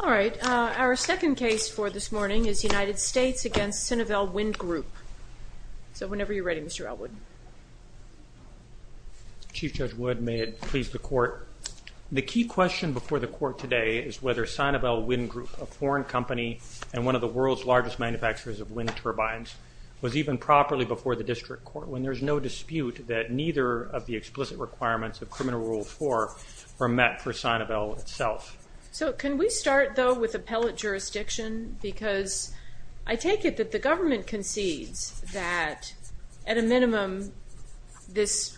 All right. Our second case for this morning is United States v. Sinovel Wind Group. So whenever you're ready, Mr. Elwood. Chief Judge Wood, may it please the Court. The key question before the Court today is whether Sinovel Wind Group, a foreign company and one of the world's largest manufacturers of wind turbines, was even properly before the District Court when there's no dispute that neither of the explicit requirements of Criminal Rule 4 were met for Sinovel itself. So can we start, though, with appellate jurisdiction? Because I take it that the government concedes that, at a minimum, this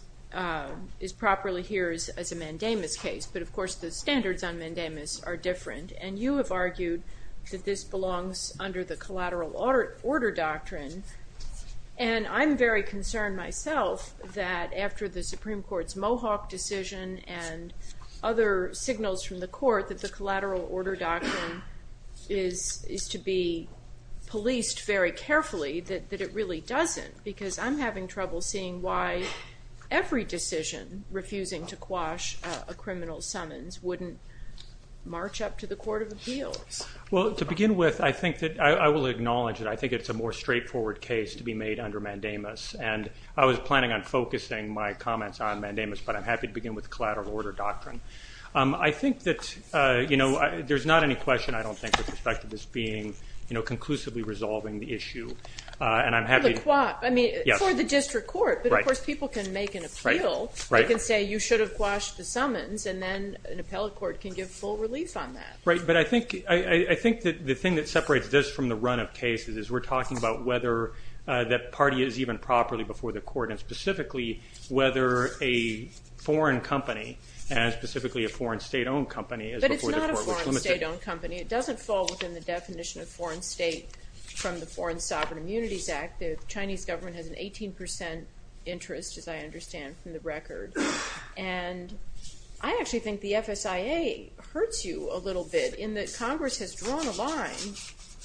is properly here as a mandamus case. But, of course, the standards on mandamus are different. And you have argued that this belongs under the collateral order doctrine. And I'm very concerned myself that, after the Supreme Court's Mohawk decision and other signals from the Court that the collateral order doctrine is to be policed very carefully, that it really doesn't. Because I'm having trouble seeing why every decision refusing to quash a criminal summons Well, to begin with, I think that I will acknowledge that I think it's a more straightforward case to be made under mandamus. And I was planning on focusing my comments on mandamus, but I'm happy to begin with the collateral order doctrine. I think that, you know, there's not any question, I don't think, with respect to this being, you know, conclusively resolving the issue. And I'm happy to... I mean, for the District Court. But, of course, people can make an appeal. They can say, you should have quashed the summons. And then an appellate court can give full relief on that. Right, but I think the thing that separates this from the run of cases is we're talking about whether that party is even properly before the court. And specifically, whether a foreign company, and specifically a foreign state-owned company, is before the court. But it's not a foreign state-owned company. It doesn't fall within the definition of foreign state from the Foreign Sovereign Immunities Act. The Chinese government has an 18% interest, as I understand from the record. And I actually think the FSIA hurts you a little bit in that Congress has drawn a line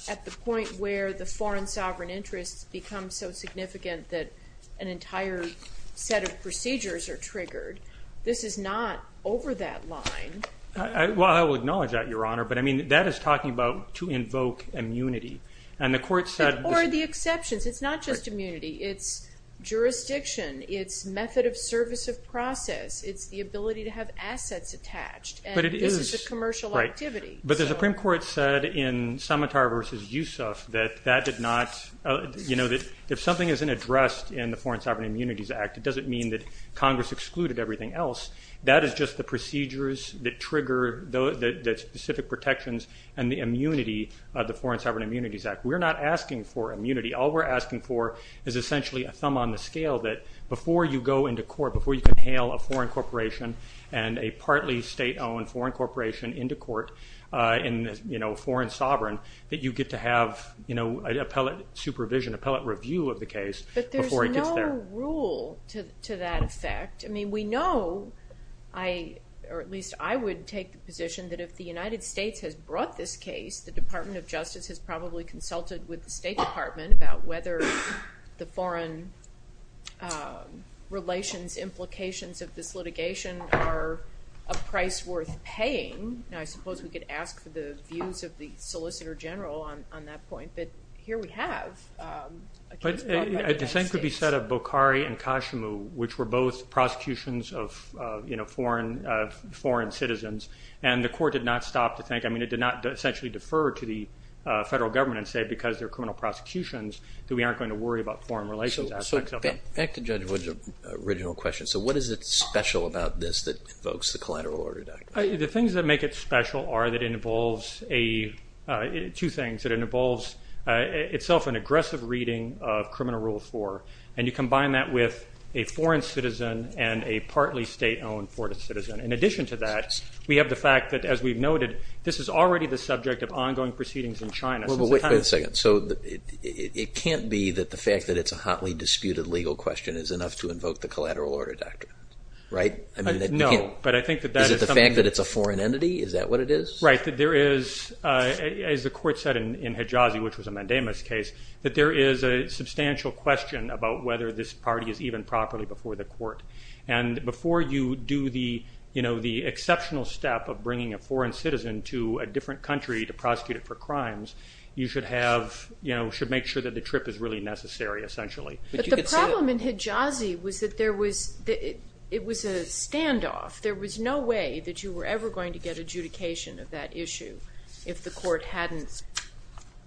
at the point where the foreign sovereign interests become so significant that an entire set of procedures are triggered. This is not over that line. Well, I will acknowledge that, Your Honor. But, I mean, that is talking about to invoke immunity. Or the exceptions. It's not just immunity. It's jurisdiction. It's method of service of process. It's the ability to have assets attached. And this is a commercial activity. But the Supreme Court said in Samatar v. Yusuf that if something isn't addressed in the Foreign Sovereign Immunities Act, it doesn't mean that Congress excluded everything else. That is just the procedures that trigger the specific protections and the immunity of the Foreign Sovereign Immunities Act. We're not asking for immunity. All we're asking for is essentially a thumb on the scale that before you go into court, before you can hail a foreign corporation and a partly state-owned foreign corporation into court in, you know, foreign sovereign, that you get to have, you know, appellate supervision, appellate review of the case before it gets there. But there's no rule to that effect. I mean, we know, or at least I would take the position that if the United States has brought this case, the Department of Justice has probably consulted with the State Department about whether the foreign relations implications of this litigation are a price worth paying. And I suppose we could ask for the views of the Solicitor General on that point. But here we have a case brought by the United States. It was a case, as we said, of Bokhari and Kashimu, which were both prosecutions of, you know, foreign citizens. And the court did not stop to think. I mean, it did not essentially defer to the federal government and say because they're criminal prosecutions that we aren't going to worry about foreign relations aspects of them. So back to Judge Wood's original question. So what is it special about this that invokes the Collateral Order Diagnosis? The things that make it special are that it involves two things. It involves itself an aggressive reading of Criminal Rule 4. And you combine that with a foreign citizen and a partly state-owned foreign citizen. In addition to that, we have the fact that, as we've noted, this is already the subject of ongoing proceedings in China. Wait a second. So it can't be that the fact that it's a hotly disputed legal question is enough to invoke the Collateral Order Diagnosis, right? No. Is it the fact that it's a foreign entity? Is that what it is? Right, that there is, as the court said in Hejazi, which was a mandamus case, that there is a substantial question about whether this party is even properly before the court. And before you do the, you know, the exceptional step of bringing a foreign citizen to a different country to prosecute it for crimes, you should have, you know, should make sure that the trip is really necessary, essentially. But the problem in Hejazi was that there was, it was a standoff. There was no way that you were ever going to get adjudication of that issue if the court hadn't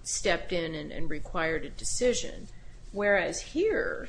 stepped in and required a decision. Whereas here,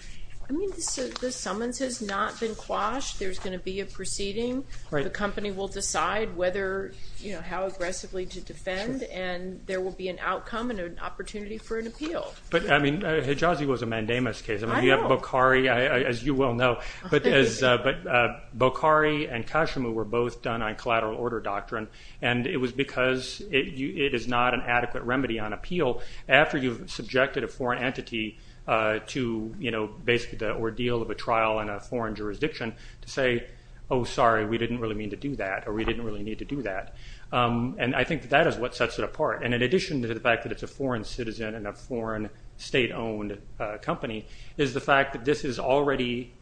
I mean, the summons has not been quashed. There's going to be a proceeding. The company will decide whether, you know, how aggressively to defend, and there will be an outcome and an opportunity for an appeal. But, I mean, Hejazi was a mandamus case. Bokhari, as you well know. But Bokhari and Kashimu were both done on collateral order doctrine. And it was because it is not an adequate remedy on appeal after you've subjected a foreign entity to, you know, basically the ordeal of a trial in a foreign jurisdiction to say, oh, sorry, we didn't really mean to do that, or we didn't really need to do that. And I think that is what sets it apart. And in addition to the fact that it's a foreign citizen and a foreign state-owned company is the fact that this is already,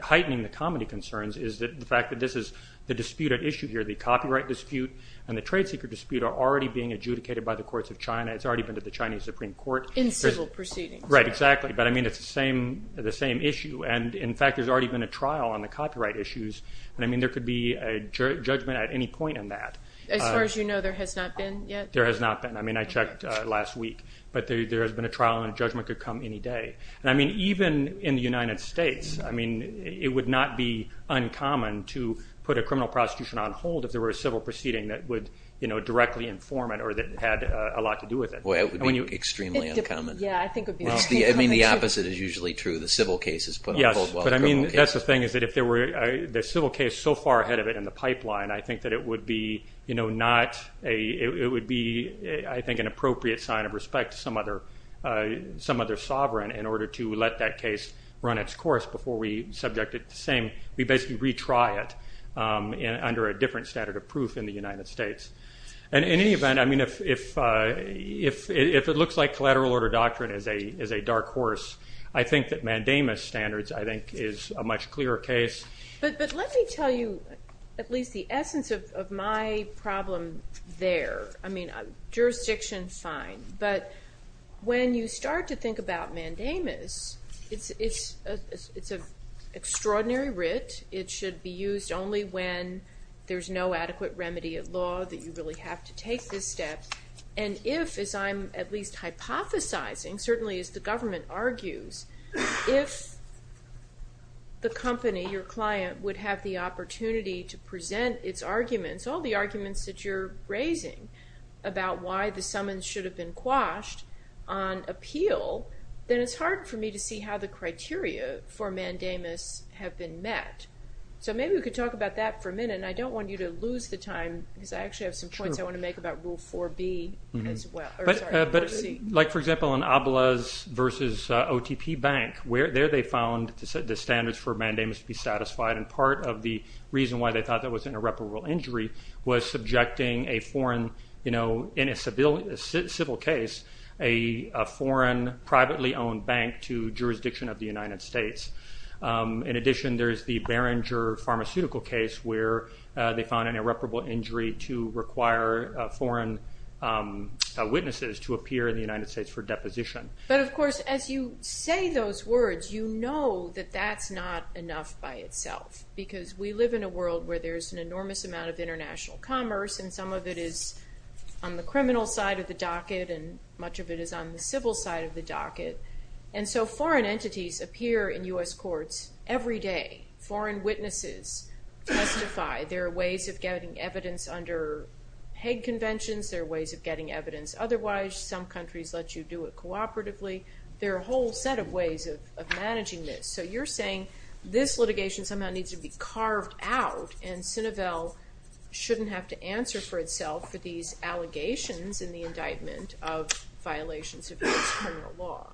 heightening the comedy concerns, is the fact that this is the disputed issue here. The copyright dispute and the trade secret dispute are already being adjudicated by the courts of China. It's already been to the Chinese Supreme Court. In civil proceedings. Right, exactly. But, I mean, it's the same issue. And, in fact, there's already been a trial on the copyright issues. And, I mean, there could be a judgment at any point on that. As far as you know, there has not been yet? There has not been. I mean, I checked last week. But there has been a trial and a judgment could come any day. And, I mean, even in the United States, I mean, it would not be uncommon to put a criminal prosecution on hold if there were a civil proceeding that would, you know, directly inform it or that had a lot to do with it. Well, it would be extremely uncommon. Yeah, I think it would be extremely uncommon. I mean, the opposite is usually true. The civil case is put on hold while the criminal case... I think an appropriate sign of respect to some other sovereign in order to let that case run its course before we subject it to the same. We basically retry it under a different standard of proof in the United States. And, in any event, I mean, if it looks like collateral order doctrine is a dark horse, I think that Mandamus standards, I think, is a much clearer case. But let me tell you at least the essence of my problem there. I mean, jurisdiction, fine. But when you start to think about Mandamus, it's an extraordinary writ. It should be used only when there's no adequate remedy of law that you really have to take this step. And if, as I'm at least hypothesizing, certainly as the government argues, if the company, your client, would have the opportunity to present its arguments, all the arguments that you're raising about why the summons should have been quashed on appeal, then it's hard for me to see how the criteria for Mandamus have been met. So maybe we could talk about that for a minute. And I don't want you to lose the time because I actually have some points I want to make about Rule 4B as well. But, like, for example, in Abla's versus OTP Bank, there they found the standards for Mandamus to be satisfied. And part of the reason why they thought that was an irreparable injury was subjecting a foreign, you know, in a civil case, a foreign privately owned bank to jurisdiction of the United States. In addition, there is the Barringer pharmaceutical case where they found an irreparable injury to require foreign witnesses to appear in the United States for deposition. But, of course, as you say those words, you know that that's not enough by itself. Because we live in a world where there's an enormous amount of international commerce, and some of it is on the criminal side of the docket and much of it is on the civil side of the docket. And so foreign entities appear in U.S. courts every day. Foreign witnesses testify. There are ways of getting evidence under Hague Conventions. There are ways of getting evidence otherwise. Some countries let you do it cooperatively. There are a whole set of ways of managing this. So you're saying this litigation somehow needs to be carved out, shouldn't have to answer for itself for these allegations in the indictment of violations of U.S. criminal law.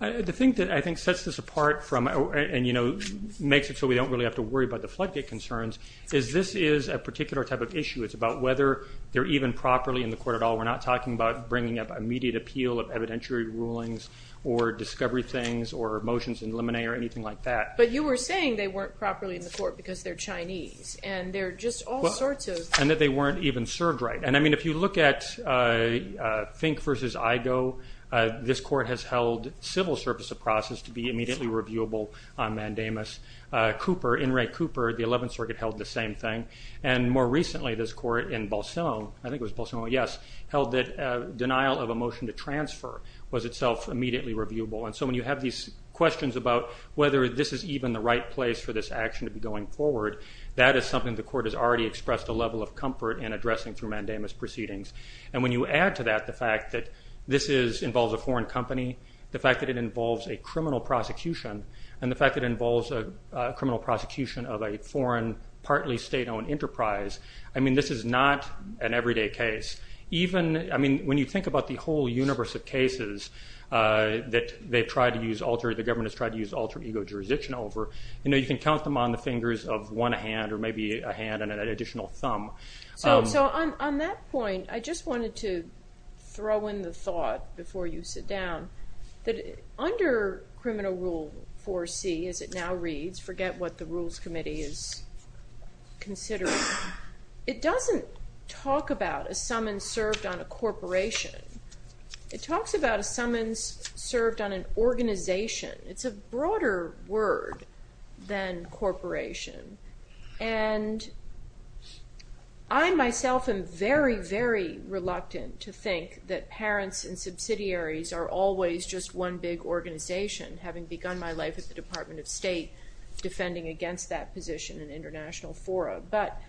The thing that I think sets this apart from, and you know, makes it so we don't really have to worry about the floodgate concerns, is this is a particular type of issue. It's about whether they're even properly in the court at all. We're not talking about bringing up immediate appeal of evidentiary rulings or discovery things or motions in limine or anything like that. But you were saying they weren't properly in the court because they're Chinese. And they're just all sorts of- And that they weren't even served right. And I mean, if you look at Fink v. Igoe, this court has held civil service of process to be immediately reviewable on mandamus. Cooper, In re Cooper, the 11th Circuit held the same thing. And more recently, this court in Bolsonaro, I think it was Bolsonaro, yes, held that denial of a motion to transfer was itself immediately reviewable. And so when you have these questions about whether this is even the right place for this action to be going forward, that is something the court has already expressed a level of comfort in addressing through mandamus proceedings. And when you add to that the fact that this involves a foreign company, the fact that it involves a criminal prosecution, and the fact that it involves a criminal prosecution of a foreign, partly state-owned enterprise. I mean, this is not an everyday case. Even, I mean, when you think about the whole universe of cases that they've tried to use alter, the government has tried to use alter ego jurisdiction over, you know, you can count them on the fingers of one hand or maybe a hand and an additional thumb. So on that point, I just wanted to throw in the thought before you sit down, that under criminal rule 4C, as it now reads, forget what the Rules Committee is considering. It doesn't talk about a summons served on a corporation. It talks about a summons served on an organization. It's a broader word than corporation. And I myself am very, very reluctant to think that parents and subsidiaries are always just one big organization, having begun my life at the Department of State defending against that position in international fora. But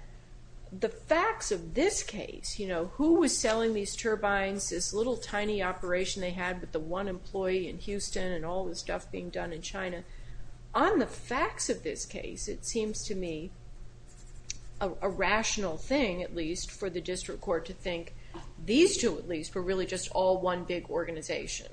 the facts of this case, you know, who was selling these turbines, this little tiny operation they had with the one employee in Houston and all the stuff being done in China. On the facts of this case, it seems to me a rational thing, at least, for the district court to think these two, at least, were really just all one big organization.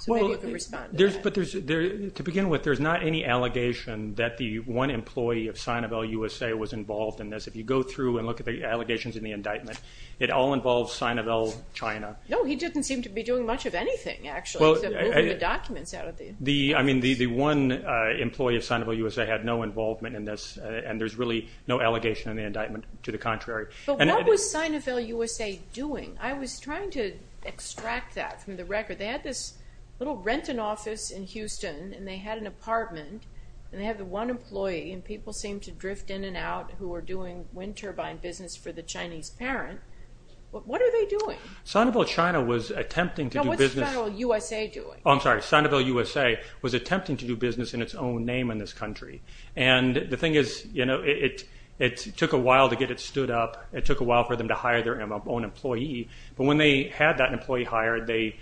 So maybe you can respond to that. Well, to begin with, there's not any allegation that the one employee of Sinovel USA was involved in this. If you go through and look at the allegations in the indictment, it all involves Sinovel China. No, he didn't seem to be doing much of anything, actually, except moving the documents out of the – I mean, the one employee of Sinovel USA had no involvement in this, and there's really no allegation in the indictment, to the contrary. But what was Sinovel USA doing? I was trying to extract that from the record. They had this little rent-an-office in Houston, and they had an apartment, and they had the one employee, and people seemed to drift in and out who were doing wind turbine business for the Chinese parent. What are they doing? Sinovel China was attempting to do business – No, what's Sinovel USA doing? Oh, I'm sorry. Sinovel USA was attempting to do business in its own name in this country. And the thing is, you know, it took a while to get it stood up. It took a while for them to hire their own employee. But when they had that employee hired, they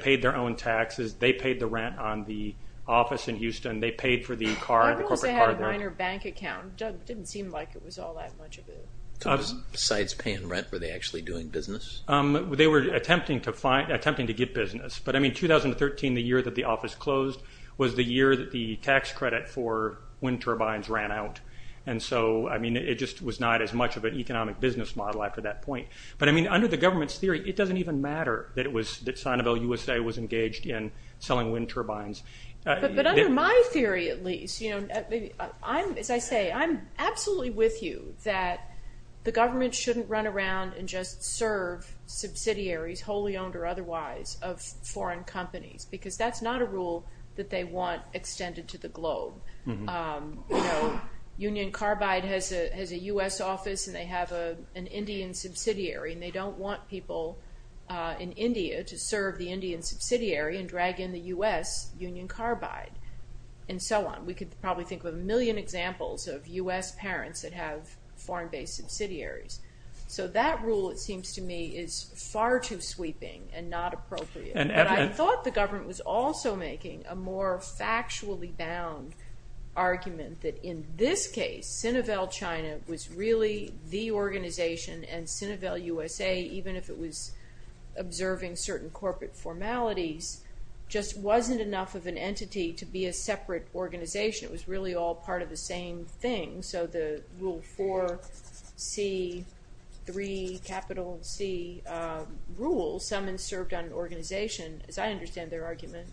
paid their own taxes. They paid the rent on the office in Houston. They paid for the car, the corporate car there. Sinovel USA had a minor bank account. It didn't seem like it was all that much of it. Besides paying rent, were they actually doing business? They were attempting to get business. But, I mean, 2013, the year that the office closed, was the year that the tax credit for wind turbines ran out. And so, I mean, it just was not as much of an economic business model after that point. But, I mean, under the government's theory, it doesn't even matter that Sinovel USA was engaged in selling wind turbines. But under my theory, at least, you know, as I say, I'm absolutely with you that the government shouldn't run around and just serve subsidiaries, wholly owned or otherwise, of foreign companies. Because that's not a rule that they want extended to the globe. You know, Union Carbide has a U.S. office and they have an Indian subsidiary. And they don't want people in India to serve the Indian subsidiary and drag in the U.S. Union Carbide and so on. We could probably think of a million examples of U.S. parents that have foreign-based subsidiaries. So, that rule, it seems to me, is far too sweeping and not appropriate. But I thought the government was also making a more factually bound argument that in this case, Sinovel China was really the organization and Sinovel USA, even if it was observing certain corporate formalities, just wasn't enough of an entity to be a separate organization. It was really all part of the same thing. So, the Rule 4C3, capital C, rule, someone served on an organization. As I understand their argument,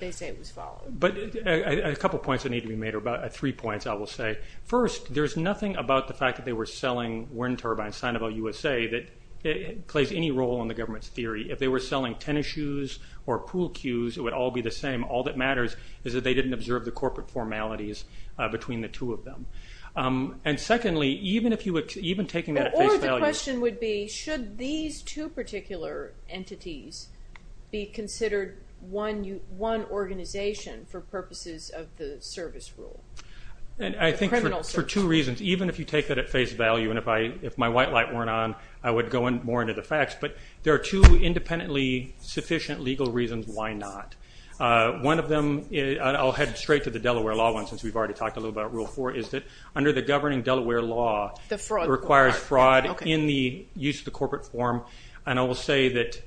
they say it was followed. But a couple of points that need to be made, or about three points, I will say. First, there's nothing about the fact that they were selling wind turbines, Sinovel USA, that plays any role in the government's theory. If they were selling tennis shoes or pool cues, it would all be the same. All that matters is that they didn't observe the corporate formalities between the two of them. And secondly, even taking that at face value... Or the question would be, should these two particular entities be considered one organization for purposes of the service rule? I think for two reasons. Even if you take that at face value, and if my white light weren't on, I would go more into the facts. But there are two independently sufficient legal reasons why not. One of them, and I'll head straight to the Delaware law one, since we've already talked a little about Rule 4, is that under the governing Delaware law, it requires fraud in the use of the corporate form. And I will say that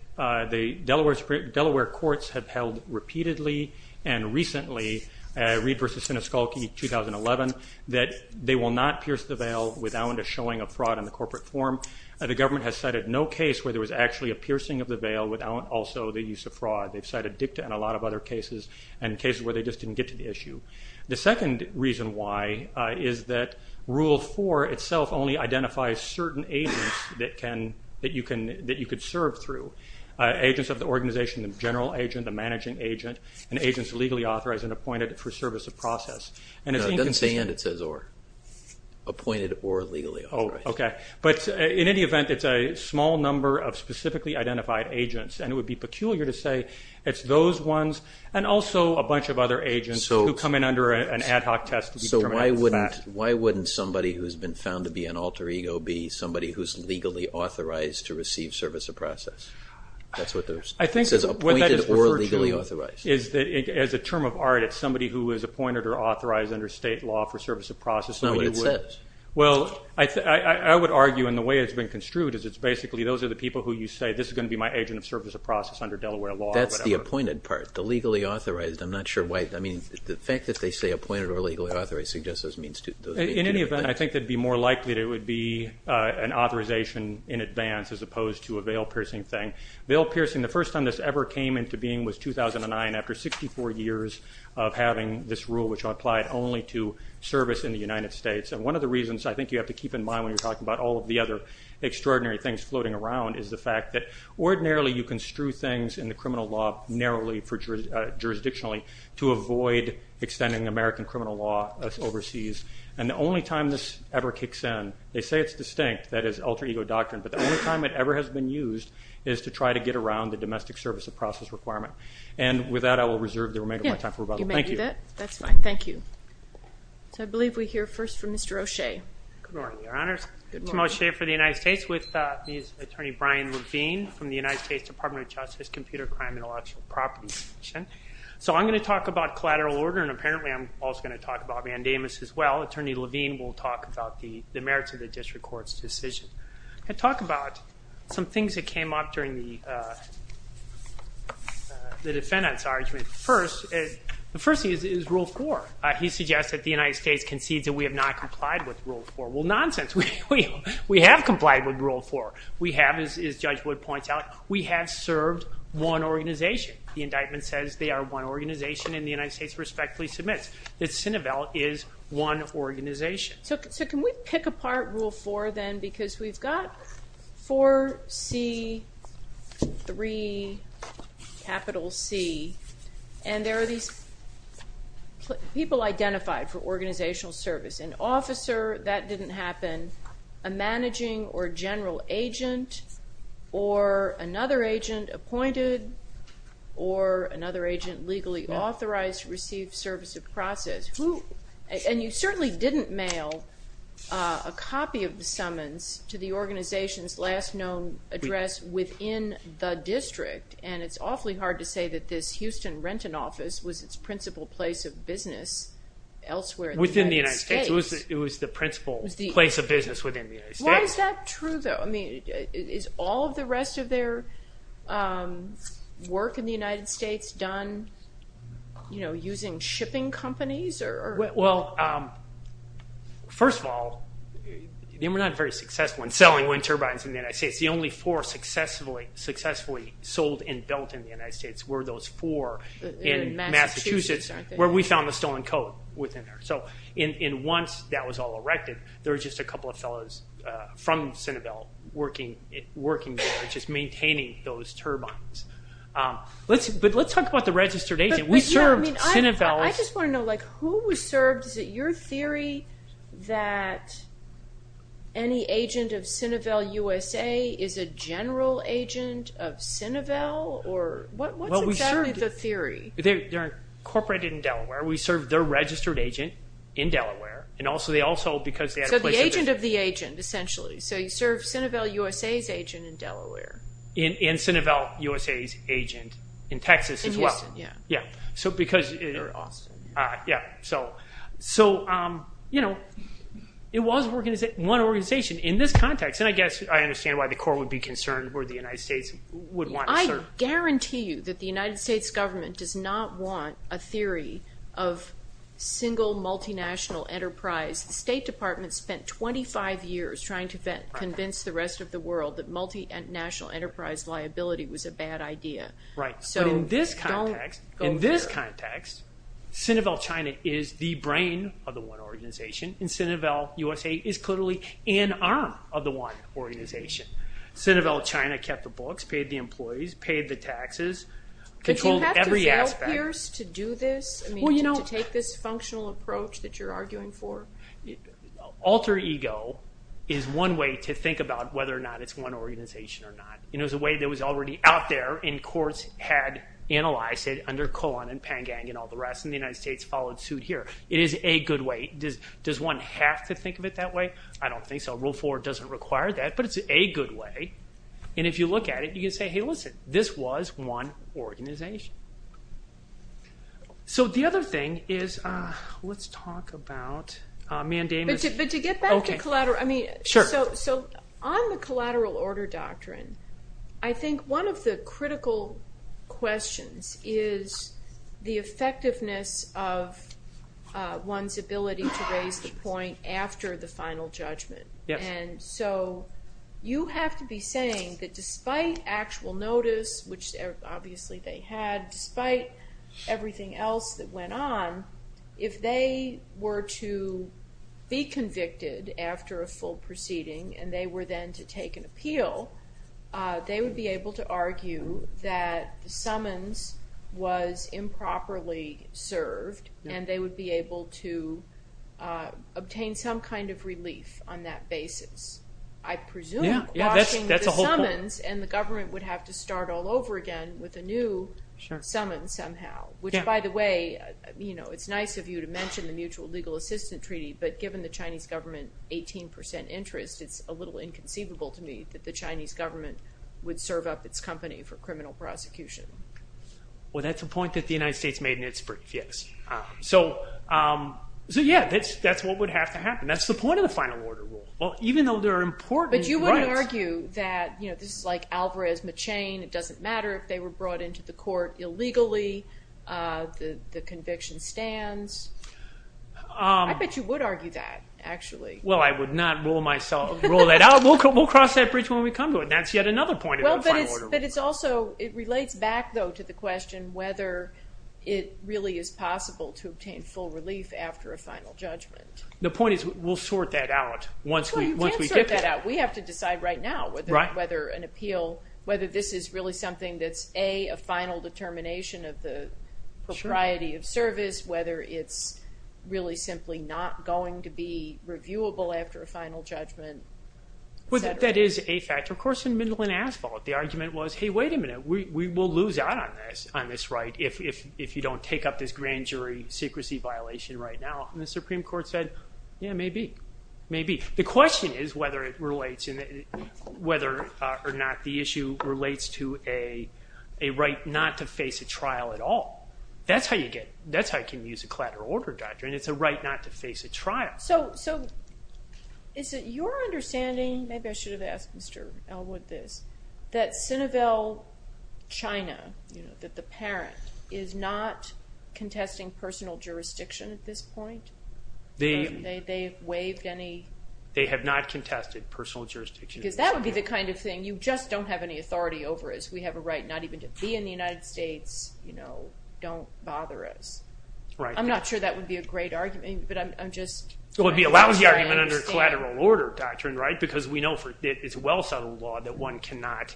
the Delaware courts have held repeatedly and recently, Reed v. Sineskalki 2011, that they will not pierce the veil without a showing of fraud in the corporate form. The government has cited no case where there was actually a piercing of the veil without also the use of fraud. They've cited dicta and a lot of other cases, and cases where they just didn't get to the issue. The second reason why is that Rule 4 itself only identifies certain agents that you can serve through. Agents of the organization, the general agent, the managing agent, and agents legally authorized and appointed for service of process. It doesn't say and, it says or. Appointed or legally authorized. But in any event, it's a small number of specifically identified agents. And it would be peculiar to say it's those ones and also a bunch of other agents who come in under an ad hoc test. So why wouldn't somebody who's been found to be an alter ego be somebody who's legally authorized to receive service of process? That's what it says. Appointed or legally authorized. As a term of art, it's somebody who is appointed or authorized under state law for service of process. That's not what it says. Well, I would argue, and the way it's been construed, is it's basically those are the people who you say, this is going to be my agent of service of process under Delaware law. That's the appointed part, the legally authorized. I'm not sure why, I mean, the fact that they say appointed or legally authorized suggests there's means to. In any event, I think it would be more likely that it would be an authorization in advance as opposed to a veil-piercing thing. Veil-piercing, the first time this ever came into being was 2009 after 64 years of having this rule, which applied only to service in the United States. And one of the reasons I think you have to keep in mind when you're talking about all of the other extraordinary things floating around is the fact that ordinarily you construe things in the criminal law narrowly jurisdictionally to avoid extending American criminal law overseas. And the only time this ever kicks in, they say it's distinct, that it's alter ego doctrine, but the only time it ever has been used is to try to get around the domestic service of process requirement. And with that, I will reserve the remainder of my time for rebuttal. Thank you. That's fine. Thank you. So I believe we hear first from Mr. O'Shea. Good morning, Your Honors. Good morning. Tim O'Shea for the United States with Attorney Brian Levine from the United States Department of Justice, Computer Crime and Intellectual Property Division. So I'm going to talk about collateral order, and apparently I'm also going to talk about Vandamus as well. Attorney Levine will talk about the merits of the district court's decision. I'm going to talk about some things that came up during the defendant's argument. The first thing is Rule 4. He suggests that the United States concedes that we have not complied with Rule 4. Well, nonsense. We have complied with Rule 4. We have, as Judge Wood points out, we have served one organization. The indictment says they are one organization, and the United States respectfully submits that Cinebell is one organization. So can we pick apart Rule 4, then, because we've got 4C3C, and there are these people identified for organizational service. An officer, that didn't happen. A managing or general agent or another agent appointed or another agent legally authorized to receive service of process. And you certainly didn't mail a copy of the summons to the organization's last known address within the district, and it's awfully hard to say that this Houston Renton office was its principal place of business elsewhere in the United States. Within the United States. It was the principal place of business within the United States. Why is that true, though? Is all of the rest of their work in the United States done using shipping companies? Well, first of all, they were not very successful in selling wind turbines in the United States. The only four successfully sold and built in the United States were those four in Massachusetts, where we found the stolen coat within there. And once that was all erected, there were just a couple of fellows from Cinebell working there, just maintaining those turbines. But let's talk about the registered agent. I just want to know, who was served? Is it your theory that any agent of Cinebell USA is a general agent of Cinebell? What's exactly the theory? They're incorporated in Delaware. We serve their registered agent in Delaware. So the agent of the agent, essentially. So you serve Cinebell USA's agent in Delaware. And Cinebell USA's agent in Texas as well. In Houston, yeah. Yeah. Or Austin. Yeah. So it was one organization in this context. And I guess I understand why the Corps would be concerned where the United States would want to serve. I guarantee you that the United States government does not want a theory of single multinational enterprise. The State Department spent 25 years trying to convince the rest of the world that multinational enterprise liability was a bad idea. Right. So don't go there. In this context, Cinebell China is the brain of the one organization. And Cinebell USA is clearly an arm of the one organization. Cinebell China kept the books, paid the employees, paid the taxes, controlled every aspect. But do you have to fail, Pierce, to do this? I mean, to take this functional approach that you're arguing for? Alter ego is one way to think about whether or not it's one organization or not. And it was a way that was already out there, and courts had analyzed it under Cohen and Pangan and all the rest, and the United States followed suit here. It is a good way. Does one have to think of it that way? I don't think so. Rule 4 doesn't require that, but it's a good way. And if you look at it, you can say, hey, listen, this was one organization. So the other thing is, let's talk about mandamus. But to get back to collateral, I mean, so on the collateral order doctrine, I think one of the critical questions is the effectiveness of one's ability to raise the point after the final judgment. And so you have to be saying that despite actual notice, which obviously they had, despite everything else that went on, if they were to be convicted after a full proceeding and they were then to take an appeal, they would be able to argue that the summons was improperly served and they would be able to obtain some kind of relief on that basis. I presume watching the summons and the government would have to start all over again with a new summons somehow, which, by the way, it's nice of you to mention the Mutual Legal Assistant Treaty, but given the Chinese government 18 percent interest, it's a little inconceivable to me that the Chinese government would serve up its company for criminal prosecution. Well, that's a point that the United States made in its brief, yes. So yeah, that's what would have to happen. That's the point of the final order rule. Well, even though there are important rights. But you wouldn't argue that this is like Alvarez-Machain. It doesn't matter if they were brought into the court illegally. The conviction stands. I bet you would argue that, actually. Well, I would not rule that out. We'll cross that bridge when we come to it. That's yet another point of the final order rule. But it's also, it relates back, though, to the question whether it really is possible to obtain full relief after a final judgment. The point is we'll sort that out once we get there. Well, you can't sort that out. We have to decide right now whether an appeal, whether this is really something that's A, a final determination of the propriety of service, whether it's really simply not going to be reviewable after a final judgment, et cetera. Well, that is a factor. Of course, in Midland Asphalt, the argument was, hey, wait a minute. We will lose out on this right if you don't take up this grand jury secrecy violation right now. And the Supreme Court said, yeah, maybe, maybe. The question is whether it relates, whether or not the issue relates to a right not to face a trial at all. That's how you get, that's how you can use a collateral order doctrine. It's a right not to face a trial. So is it your understanding, maybe I should have asked Mr. Elwood this, that Sinovel China, that the parent is not contesting personal jurisdiction at this point? They have waived any? They have not contested personal jurisdiction. Because that would be the kind of thing you just don't have any authority over, as we have a right not even to be in the United States, you know, don't bother us. I'm not sure that would be a great argument, but I'm just trying to understand. It would be a lousy argument under collateral order doctrine, right, because we know it's a well-settled law that one cannot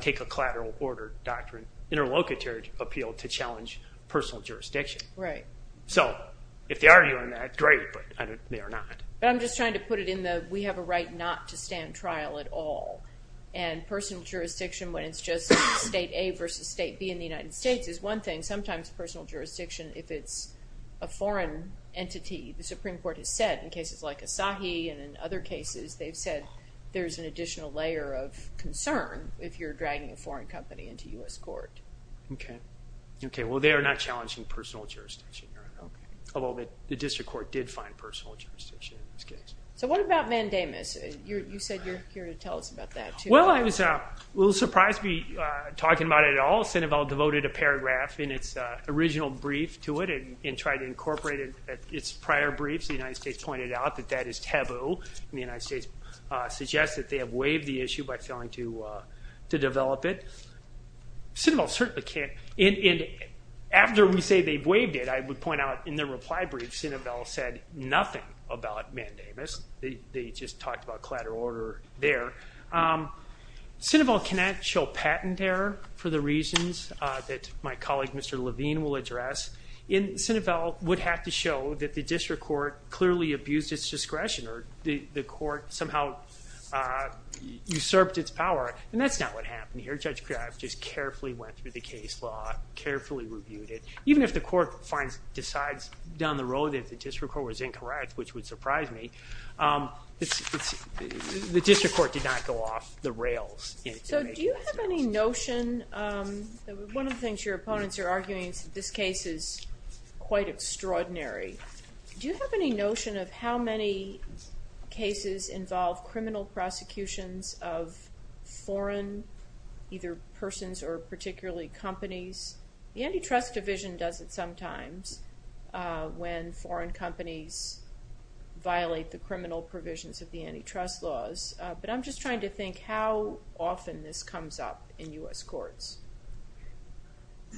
take a collateral order doctrine, interlocutory appeal to challenge personal jurisdiction. So if they argue on that, great, but they are not. But I'm just trying to put it in the we have a right not to stand trial at all. And personal jurisdiction when it's just state A versus state B in the United States is one thing. Sometimes personal jurisdiction, if it's a foreign entity, the Supreme Court has said, in cases like Asahi and in other cases, they've said there's an additional layer of concern if you're dragging a foreign company into U.S. court. Okay. Okay, well, they are not challenging personal jurisdiction. Although the district court did find personal jurisdiction in this case. So what about Vandamus? You said you're here to tell us about that, too. Well, I was a little surprised to be talking about it at all. Sinovell devoted a paragraph in its original brief to it and tried to incorporate it in its prior briefs. The United States pointed out that that is taboo, and the United States suggests that they have waived the issue by failing to develop it. Sinovell certainly can't. And after we say they've waived it, I would point out in their reply brief, Sinovell said nothing about Vandamus. They just talked about collateral order there. Sinovell cannot show patent error for the reasons that my colleague, Mr. Levine, will address. Sinovell would have to show that the district court clearly abused its discretion or the court somehow usurped its power, and that's not what happened here. Judge Kraft just carefully went through the case law, carefully reviewed it. Even if the court decides down the road that the district court was incorrect, which would surprise me, the district court did not go off the rails. So do you have any notion? One of the things your opponents are arguing is that this case is quite extraordinary. Do you have any notion of how many cases involve criminal prosecutions of foreign, either persons or particularly companies? The antitrust division does it sometimes when foreign companies violate the criminal provisions of the antitrust laws. But I'm just trying to think how often this comes up in U.S. courts.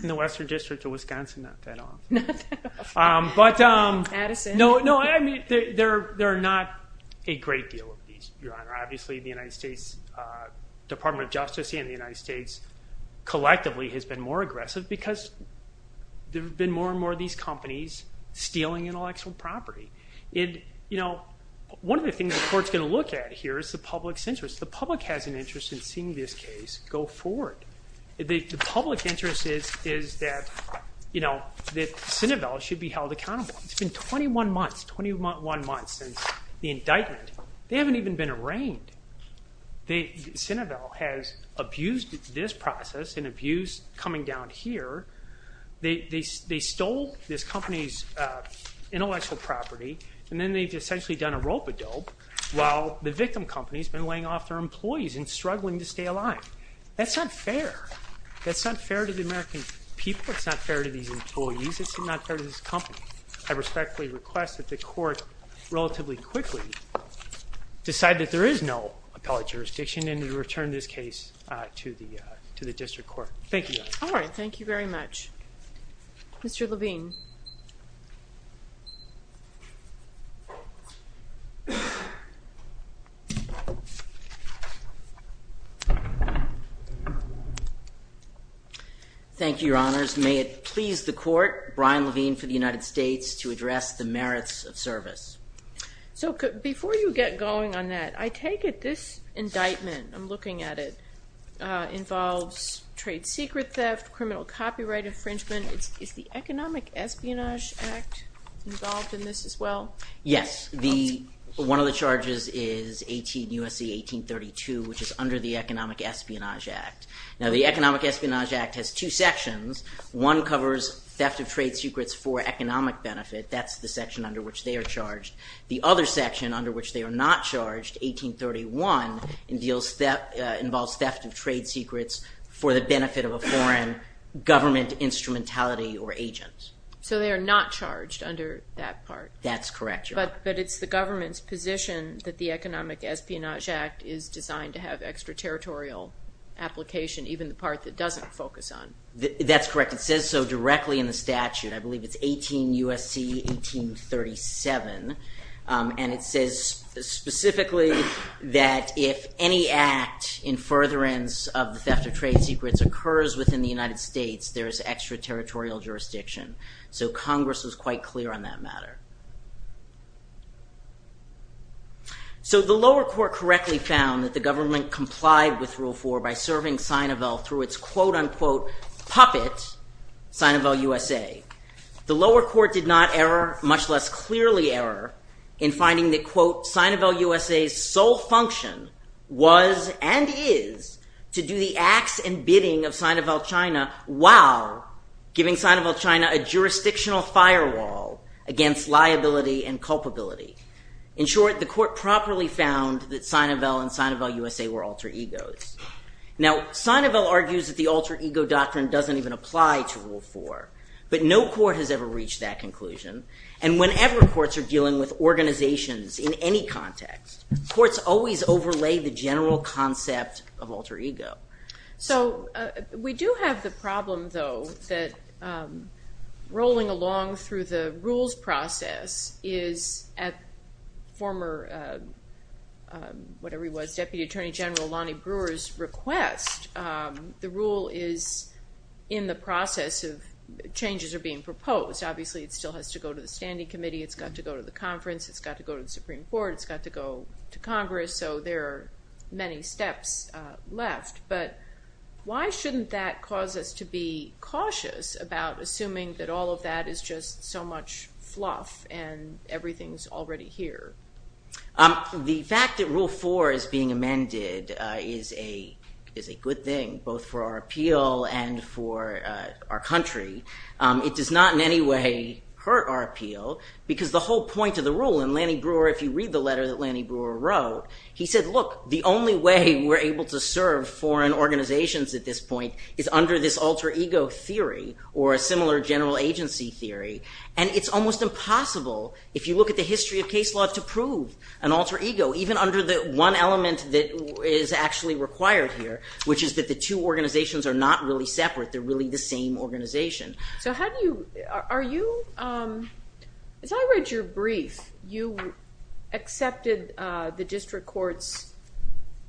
In the Western District of Wisconsin, not that often. Addison? No, I mean, there are not a great deal of these, Your Honor. Obviously, the United States Department of Justice and the United States collectively has been more aggressive because there have been more and more of these companies stealing intellectual property. One of the things the court's going to look at here is the public's interest. The public has an interest in seeing this case go forward. The public interest is that Cinevell should be held accountable. It's been 21 months, 21 months since the indictment. They haven't even been arraigned. Cinevell has abused this process and abused coming down here. They stole this company's intellectual property, and then they've essentially done a rope-a-dope while the victim company's been laying off their employees and struggling to stay alive. That's not fair. That's not fair to the American people. It's not fair to these employees. It's not fair to this company. I respectfully request that the court relatively quickly decide that there is no appellate jurisdiction and to return this case to the district court. Thank you. All right, thank you very much. Mr. Levine. Thank you, Your Honors. May it please the court, Brian Levine for the United States, to address the merits of service. Before you get going on that, I take it this indictment, I'm looking at it, involves trade secret theft, criminal copyright infringement. Is the Economic Espionage Act involved in this as well? Yes. One of the charges is 18 U.S.C. 1832, which is under the Economic Espionage Act. Now, the Economic Espionage Act has two sections. One covers theft of trade secrets for economic benefit. That's the section under which they are charged. The other section under which they are not charged, 1831, involves theft of trade secrets for the benefit of a foreign government instrumentality or agent. So they are not charged under that part. That's correct, Your Honor. But it's the government's position that the Economic Espionage Act is designed to have extraterritorial application, even the part that it doesn't focus on. That's correct. It says so directly in the statute. I believe it's 18 U.S.C. 1837. And it says specifically that if any act in furtherance of the theft of trade secrets occurs within the United States, there is extraterritorial jurisdiction. So Congress was quite clear on that matter. So the lower court correctly found that the government complied with Rule 4 by serving Sinovel through its quote, unquote, puppet, Sinovel USA. The lower court did not err, much less clearly err, in finding that, quote, Sinovel USA's sole function was and is to do the acts and bidding of Sinovel China while giving Sinovel China a jurisdictional firewall against liability and culpability. In short, the court properly found that Sinovel and Sinovel USA were alter egos. Now, Sinovel argues that the alter ego doctrine doesn't even apply to Rule 4. But no court has ever reached that conclusion. And whenever courts are dealing with organizations in any context, courts always overlay the general concept of alter ego. So we do have the problem, though, that rolling along through the rules process is at former, whatever he was, Deputy Attorney General Lonnie Brewer's request. The rule is in the process of changes are being proposed. Obviously, it still has to go to the standing committee. It's got to go to the conference. It's got to go to the Supreme Court. It's got to go to Congress. So there are many steps left. But why shouldn't that cause us to be cautious about assuming that all of that is just so much fluff and everything's already here? The fact that Rule 4 is being amended is a good thing, both for our appeal and for our country. It does not in any way hurt our appeal because the whole point of the rule, and Lonnie Brewer, if you read the letter that Lonnie Brewer wrote, he said, look, the only way we're able to serve foreign organizations at this point is under this alter ego theory or a similar general agency theory. And it's almost impossible, if you look at the history of case law, to prove an alter ego, even under the one element that is actually required here, which is that the two organizations are not really separate. They're really the same organization. So how do you, are you, as I read your brief, you accepted the district court's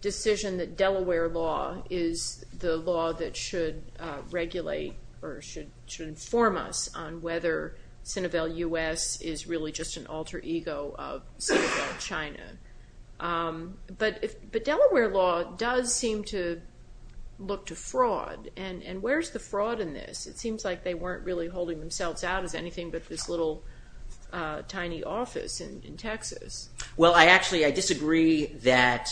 decision that Delaware law is the law that should regulate or should inform us on whether Sinovel U.S. is really just an alter ego of Sinovel China. But Delaware law does seem to look to fraud. And where's the fraud in this? It seems like they weren't really holding themselves out as anything but this little tiny office in Texas. Well, I actually, I disagree that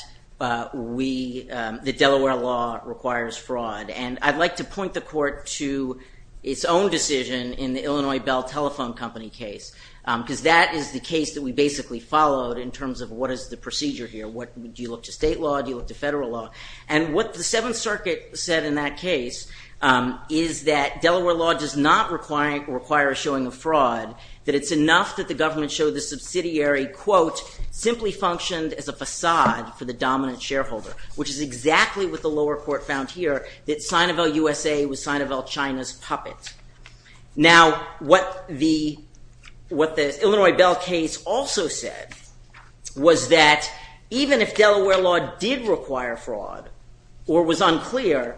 we, that Delaware law requires fraud. And I'd like to point the court to its own decision in the Illinois Bell Telephone Company case, because that is the case that we basically followed in terms of what is the procedure here. Do you look to state law? Do you look to federal law? And what the Seventh Circuit said in that case is that Delaware law does not require showing a fraud, that it's enough that the government show the subsidiary, quote, simply functioned as a facade for the dominant shareholder, which is exactly what the lower court found here, that Sinovel U.S.A. was Sinovel China's puppet. Now, what the Illinois Bell case also said was that even if Delaware law did require fraud or was unclear,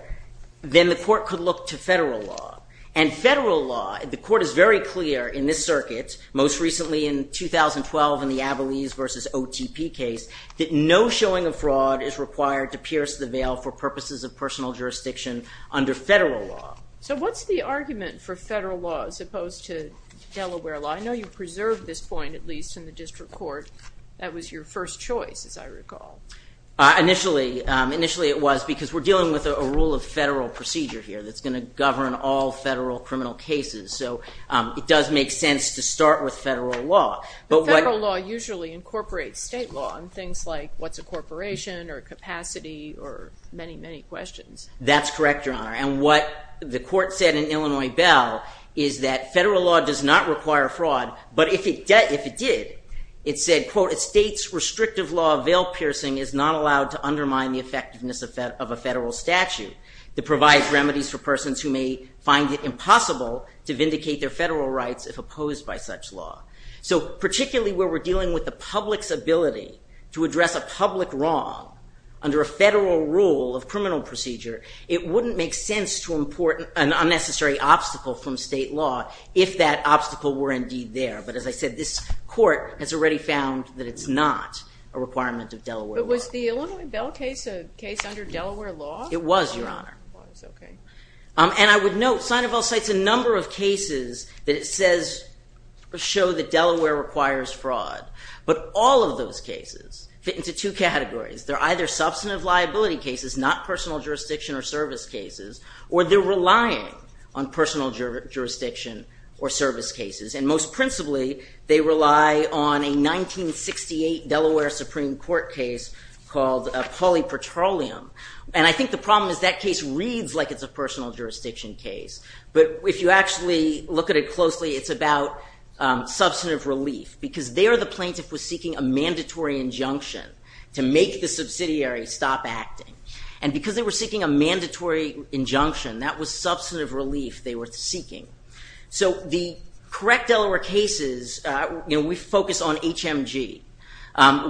then the court could look to federal law. And federal law, the court is very clear in this circuit, most recently in 2012 in the Abilese v. OTP case, that no showing of fraud is required to pierce the veil for purposes of personal jurisdiction under federal law. So what's the argument for federal law as opposed to Delaware law? I know you preserved this point, at least, in the district court. That was your first choice, as I recall. Initially it was, because we're dealing with a rule of federal procedure here that's going to govern all federal criminal cases. So it does make sense to start with federal law. But federal law usually incorporates state law in things like what's a corporation or capacity or many, many questions. That's correct, Your Honor. And what the court said in Illinois Bell is that federal law does not require fraud, but if it did, it said, quote, a state's restrictive law of veil piercing is not allowed to undermine the effectiveness of a federal statute that provides remedies for persons who may find it impossible to vindicate their federal rights if opposed by such law. So particularly where we're dealing with the public's ability to address a public wrong under a federal rule of criminal procedure, it wouldn't make sense to import an unnecessary obstacle from state law if that obstacle were indeed there. But as I said, this court has already found that it's not a requirement of Delaware law. But was the Illinois Bell case a case under Delaware law? It was, Your Honor. And I would note, Seineville cites a number of cases that it says show that Delaware requires fraud. But all of those cases fit into two categories. They're either substantive liability cases, not personal jurisdiction or service cases, or they're relying on personal jurisdiction or service cases. And most principally, they rely on a 1968 Delaware Supreme Court case called Pauli Petroleum. And I think the problem is that case reads like it's a personal jurisdiction case. But if you actually look at it closely, it's about substantive relief because there the plaintiff was seeking a mandatory injunction to make the subsidiary stop acting. And because they were seeking a mandatory injunction, that was substantive relief they were seeking. So the correct Delaware cases, we focus on HMG,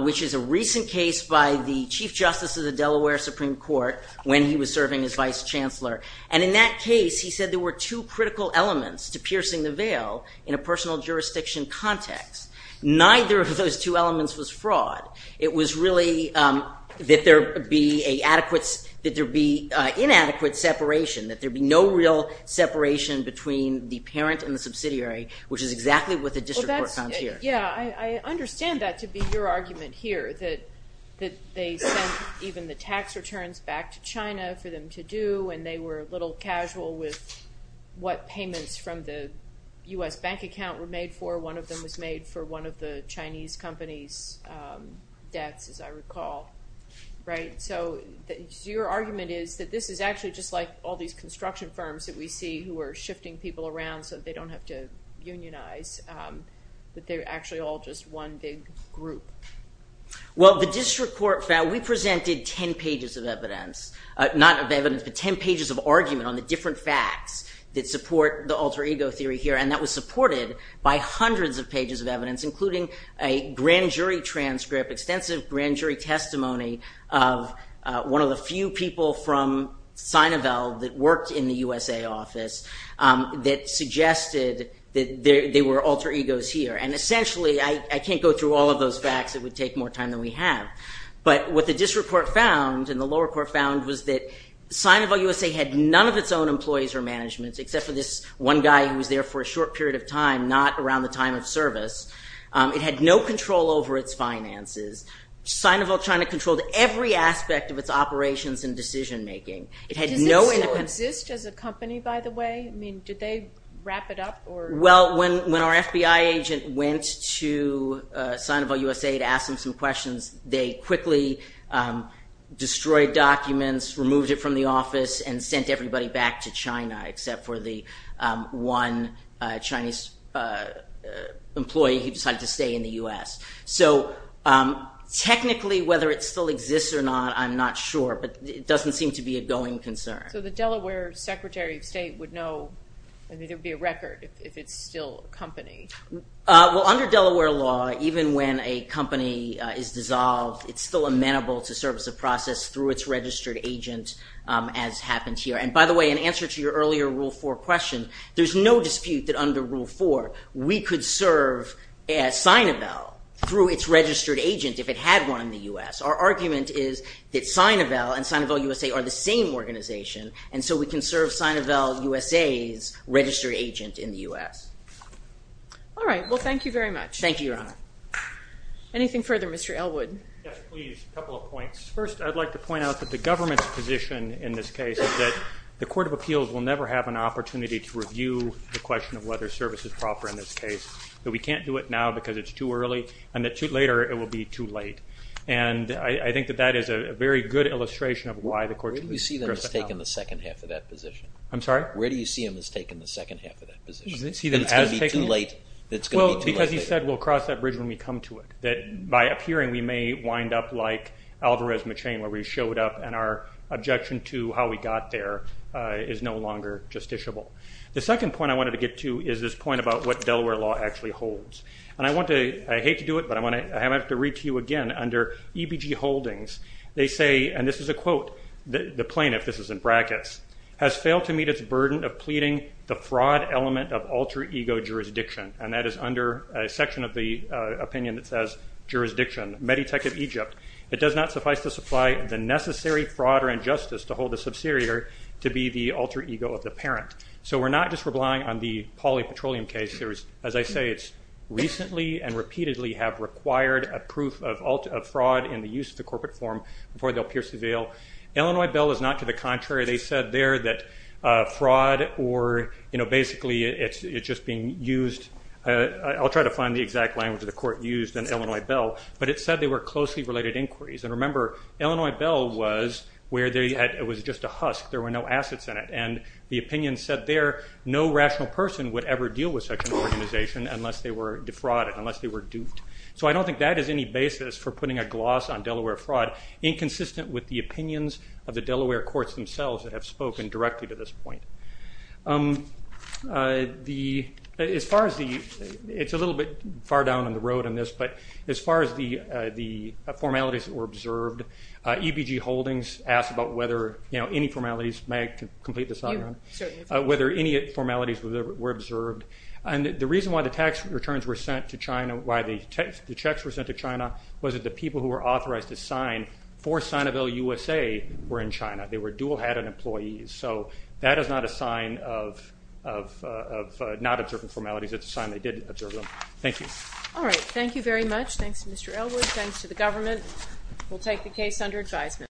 which is a recent case by the Chief Justice of the Delaware Supreme Court when he was serving as Vice Chancellor. And in that case, he said there were two critical elements to piercing the veil in a personal jurisdiction context. Neither of those two elements was fraud. It was really that there be inadequate separation, that there be no real separation between the parent and the subsidiary, which is exactly what the district court found here. Yeah, I understand that to be your argument here, that they sent even the tax returns back to China for them to do, and they were a little casual with what payments from the U.S. bank account were made for. One of them was made for one of the Chinese companies' debts, as I recall. So your argument is that this is actually just like all these construction firms that we see who are shifting people around so they don't have to unionize, that they're actually all just one big group. Well, the district court found we presented 10 pages of evidence. Not of evidence, but 10 pages of argument on the different facts that support the alter ego theory here, and that was supported by hundreds of pages of evidence, including a grand jury transcript, extensive grand jury testimony of one of the few people from Sinovel that worked in the USA office that suggested that there were alter egos here. And essentially, I can't go through all of those facts. It would take more time than we have. But what the district court found and the lower court found was that Sinovel USA had none of its own employees or management, except for this one guy who was there for a short period of time, not around the time of service. It had no control over its finances. Sinovel China controlled every aspect of its operations and decision-making. Does it still exist as a company, by the way? I mean, did they wrap it up? Well, when our FBI agent went to Sinovel USA to ask them some questions, they quickly destroyed documents, removed it from the office, and sent everybody back to China, except for the one Chinese employee who decided to stay in the US. So technically, whether it still exists or not, I'm not sure, but it doesn't seem to be a going concern. So the Delaware Secretary of State would know, I mean, there would be a record if it's still a company. Well, under Delaware law, even when a company is dissolved, it's still amenable to service of process through its registered agent, as happened here. And by the way, in answer to your earlier Rule 4 question, there's no dispute that under Rule 4, we could serve at Sinovel through its registered agent if it had one in the US. Our argument is that Sinovel and Sinovel USA are the same organization, and so we can serve Sinovel USA's registered agent in the US. All right. Well, thank you very much. Thank you, Your Honor. Anything further? Mr. Elwood. Yes, please. A couple of points. First, I'd like to point out that the government's position in this case is that the Court of Appeals will never have an opportunity to review the question of whether service is proper in this case, that we can't do it now because it's too early, and that later it will be too late. And I think that that is a very good illustration of why the Court of Appeals doesn't have an opportunity. Where do you see them as taking the second half of that position? I'm sorry? Where do you see them as taking the second half of that position? That it's going to be too late? Well, because he said we'll cross that bridge when we come to it, that by appearing we may wind up like Alvarez-McChain where we showed up and our objection to how we got there is no longer justiciable. The second point I wanted to get to is this point about what Delaware law actually holds. I hate to do it, but I'm going to have to read to you again. Under EBG Holdings they say, and this is a quote, the plaintiff, this is in brackets, has failed to meet its burden of pleading the fraud element of alter ego jurisdiction, and that is under a section of the opinion that says jurisdiction, Meditech of Egypt, it does not suffice to supply the necessary fraud or injustice to hold the subsidiary to be the alter ego of the parent. So we're not just relying on the polypetroleum case. As I say, it's recently and repeatedly have required a proof of fraud in the use of the corporate form before they'll pierce the veil. Illinois bill is not to the contrary. They said there that fraud or basically it's just being used. I'll try to find the exact language the court used in Illinois bill, but it said they were closely related inquiries. And remember, Illinois bill was where it was just a husk. There were no assets in it. And the opinion said there no rational person would ever deal with such an organization unless they were defrauded, unless they were duped. So I don't think that is any basis for putting a gloss on Delaware fraud inconsistent with the opinions of the Delaware courts themselves that have spoken directly to this point. As far as the, it's a little bit far down the road on this, but as far as the formalities that were observed, EBG Holdings asked about whether, you know, any formalities, may I complete this off, whether any formalities were observed. And the reason why the tax returns were sent to China, why the checks were sent to China, was that the people who were authorized to sign for Sinoville USA were in China. They were dual head and employees. So that is not a sign of not observing formalities. It's a sign they did observe them. Thank you. All right. Thank you very much. Thanks, Mr. Elwood. Thanks to the government. We'll take the case under advisement.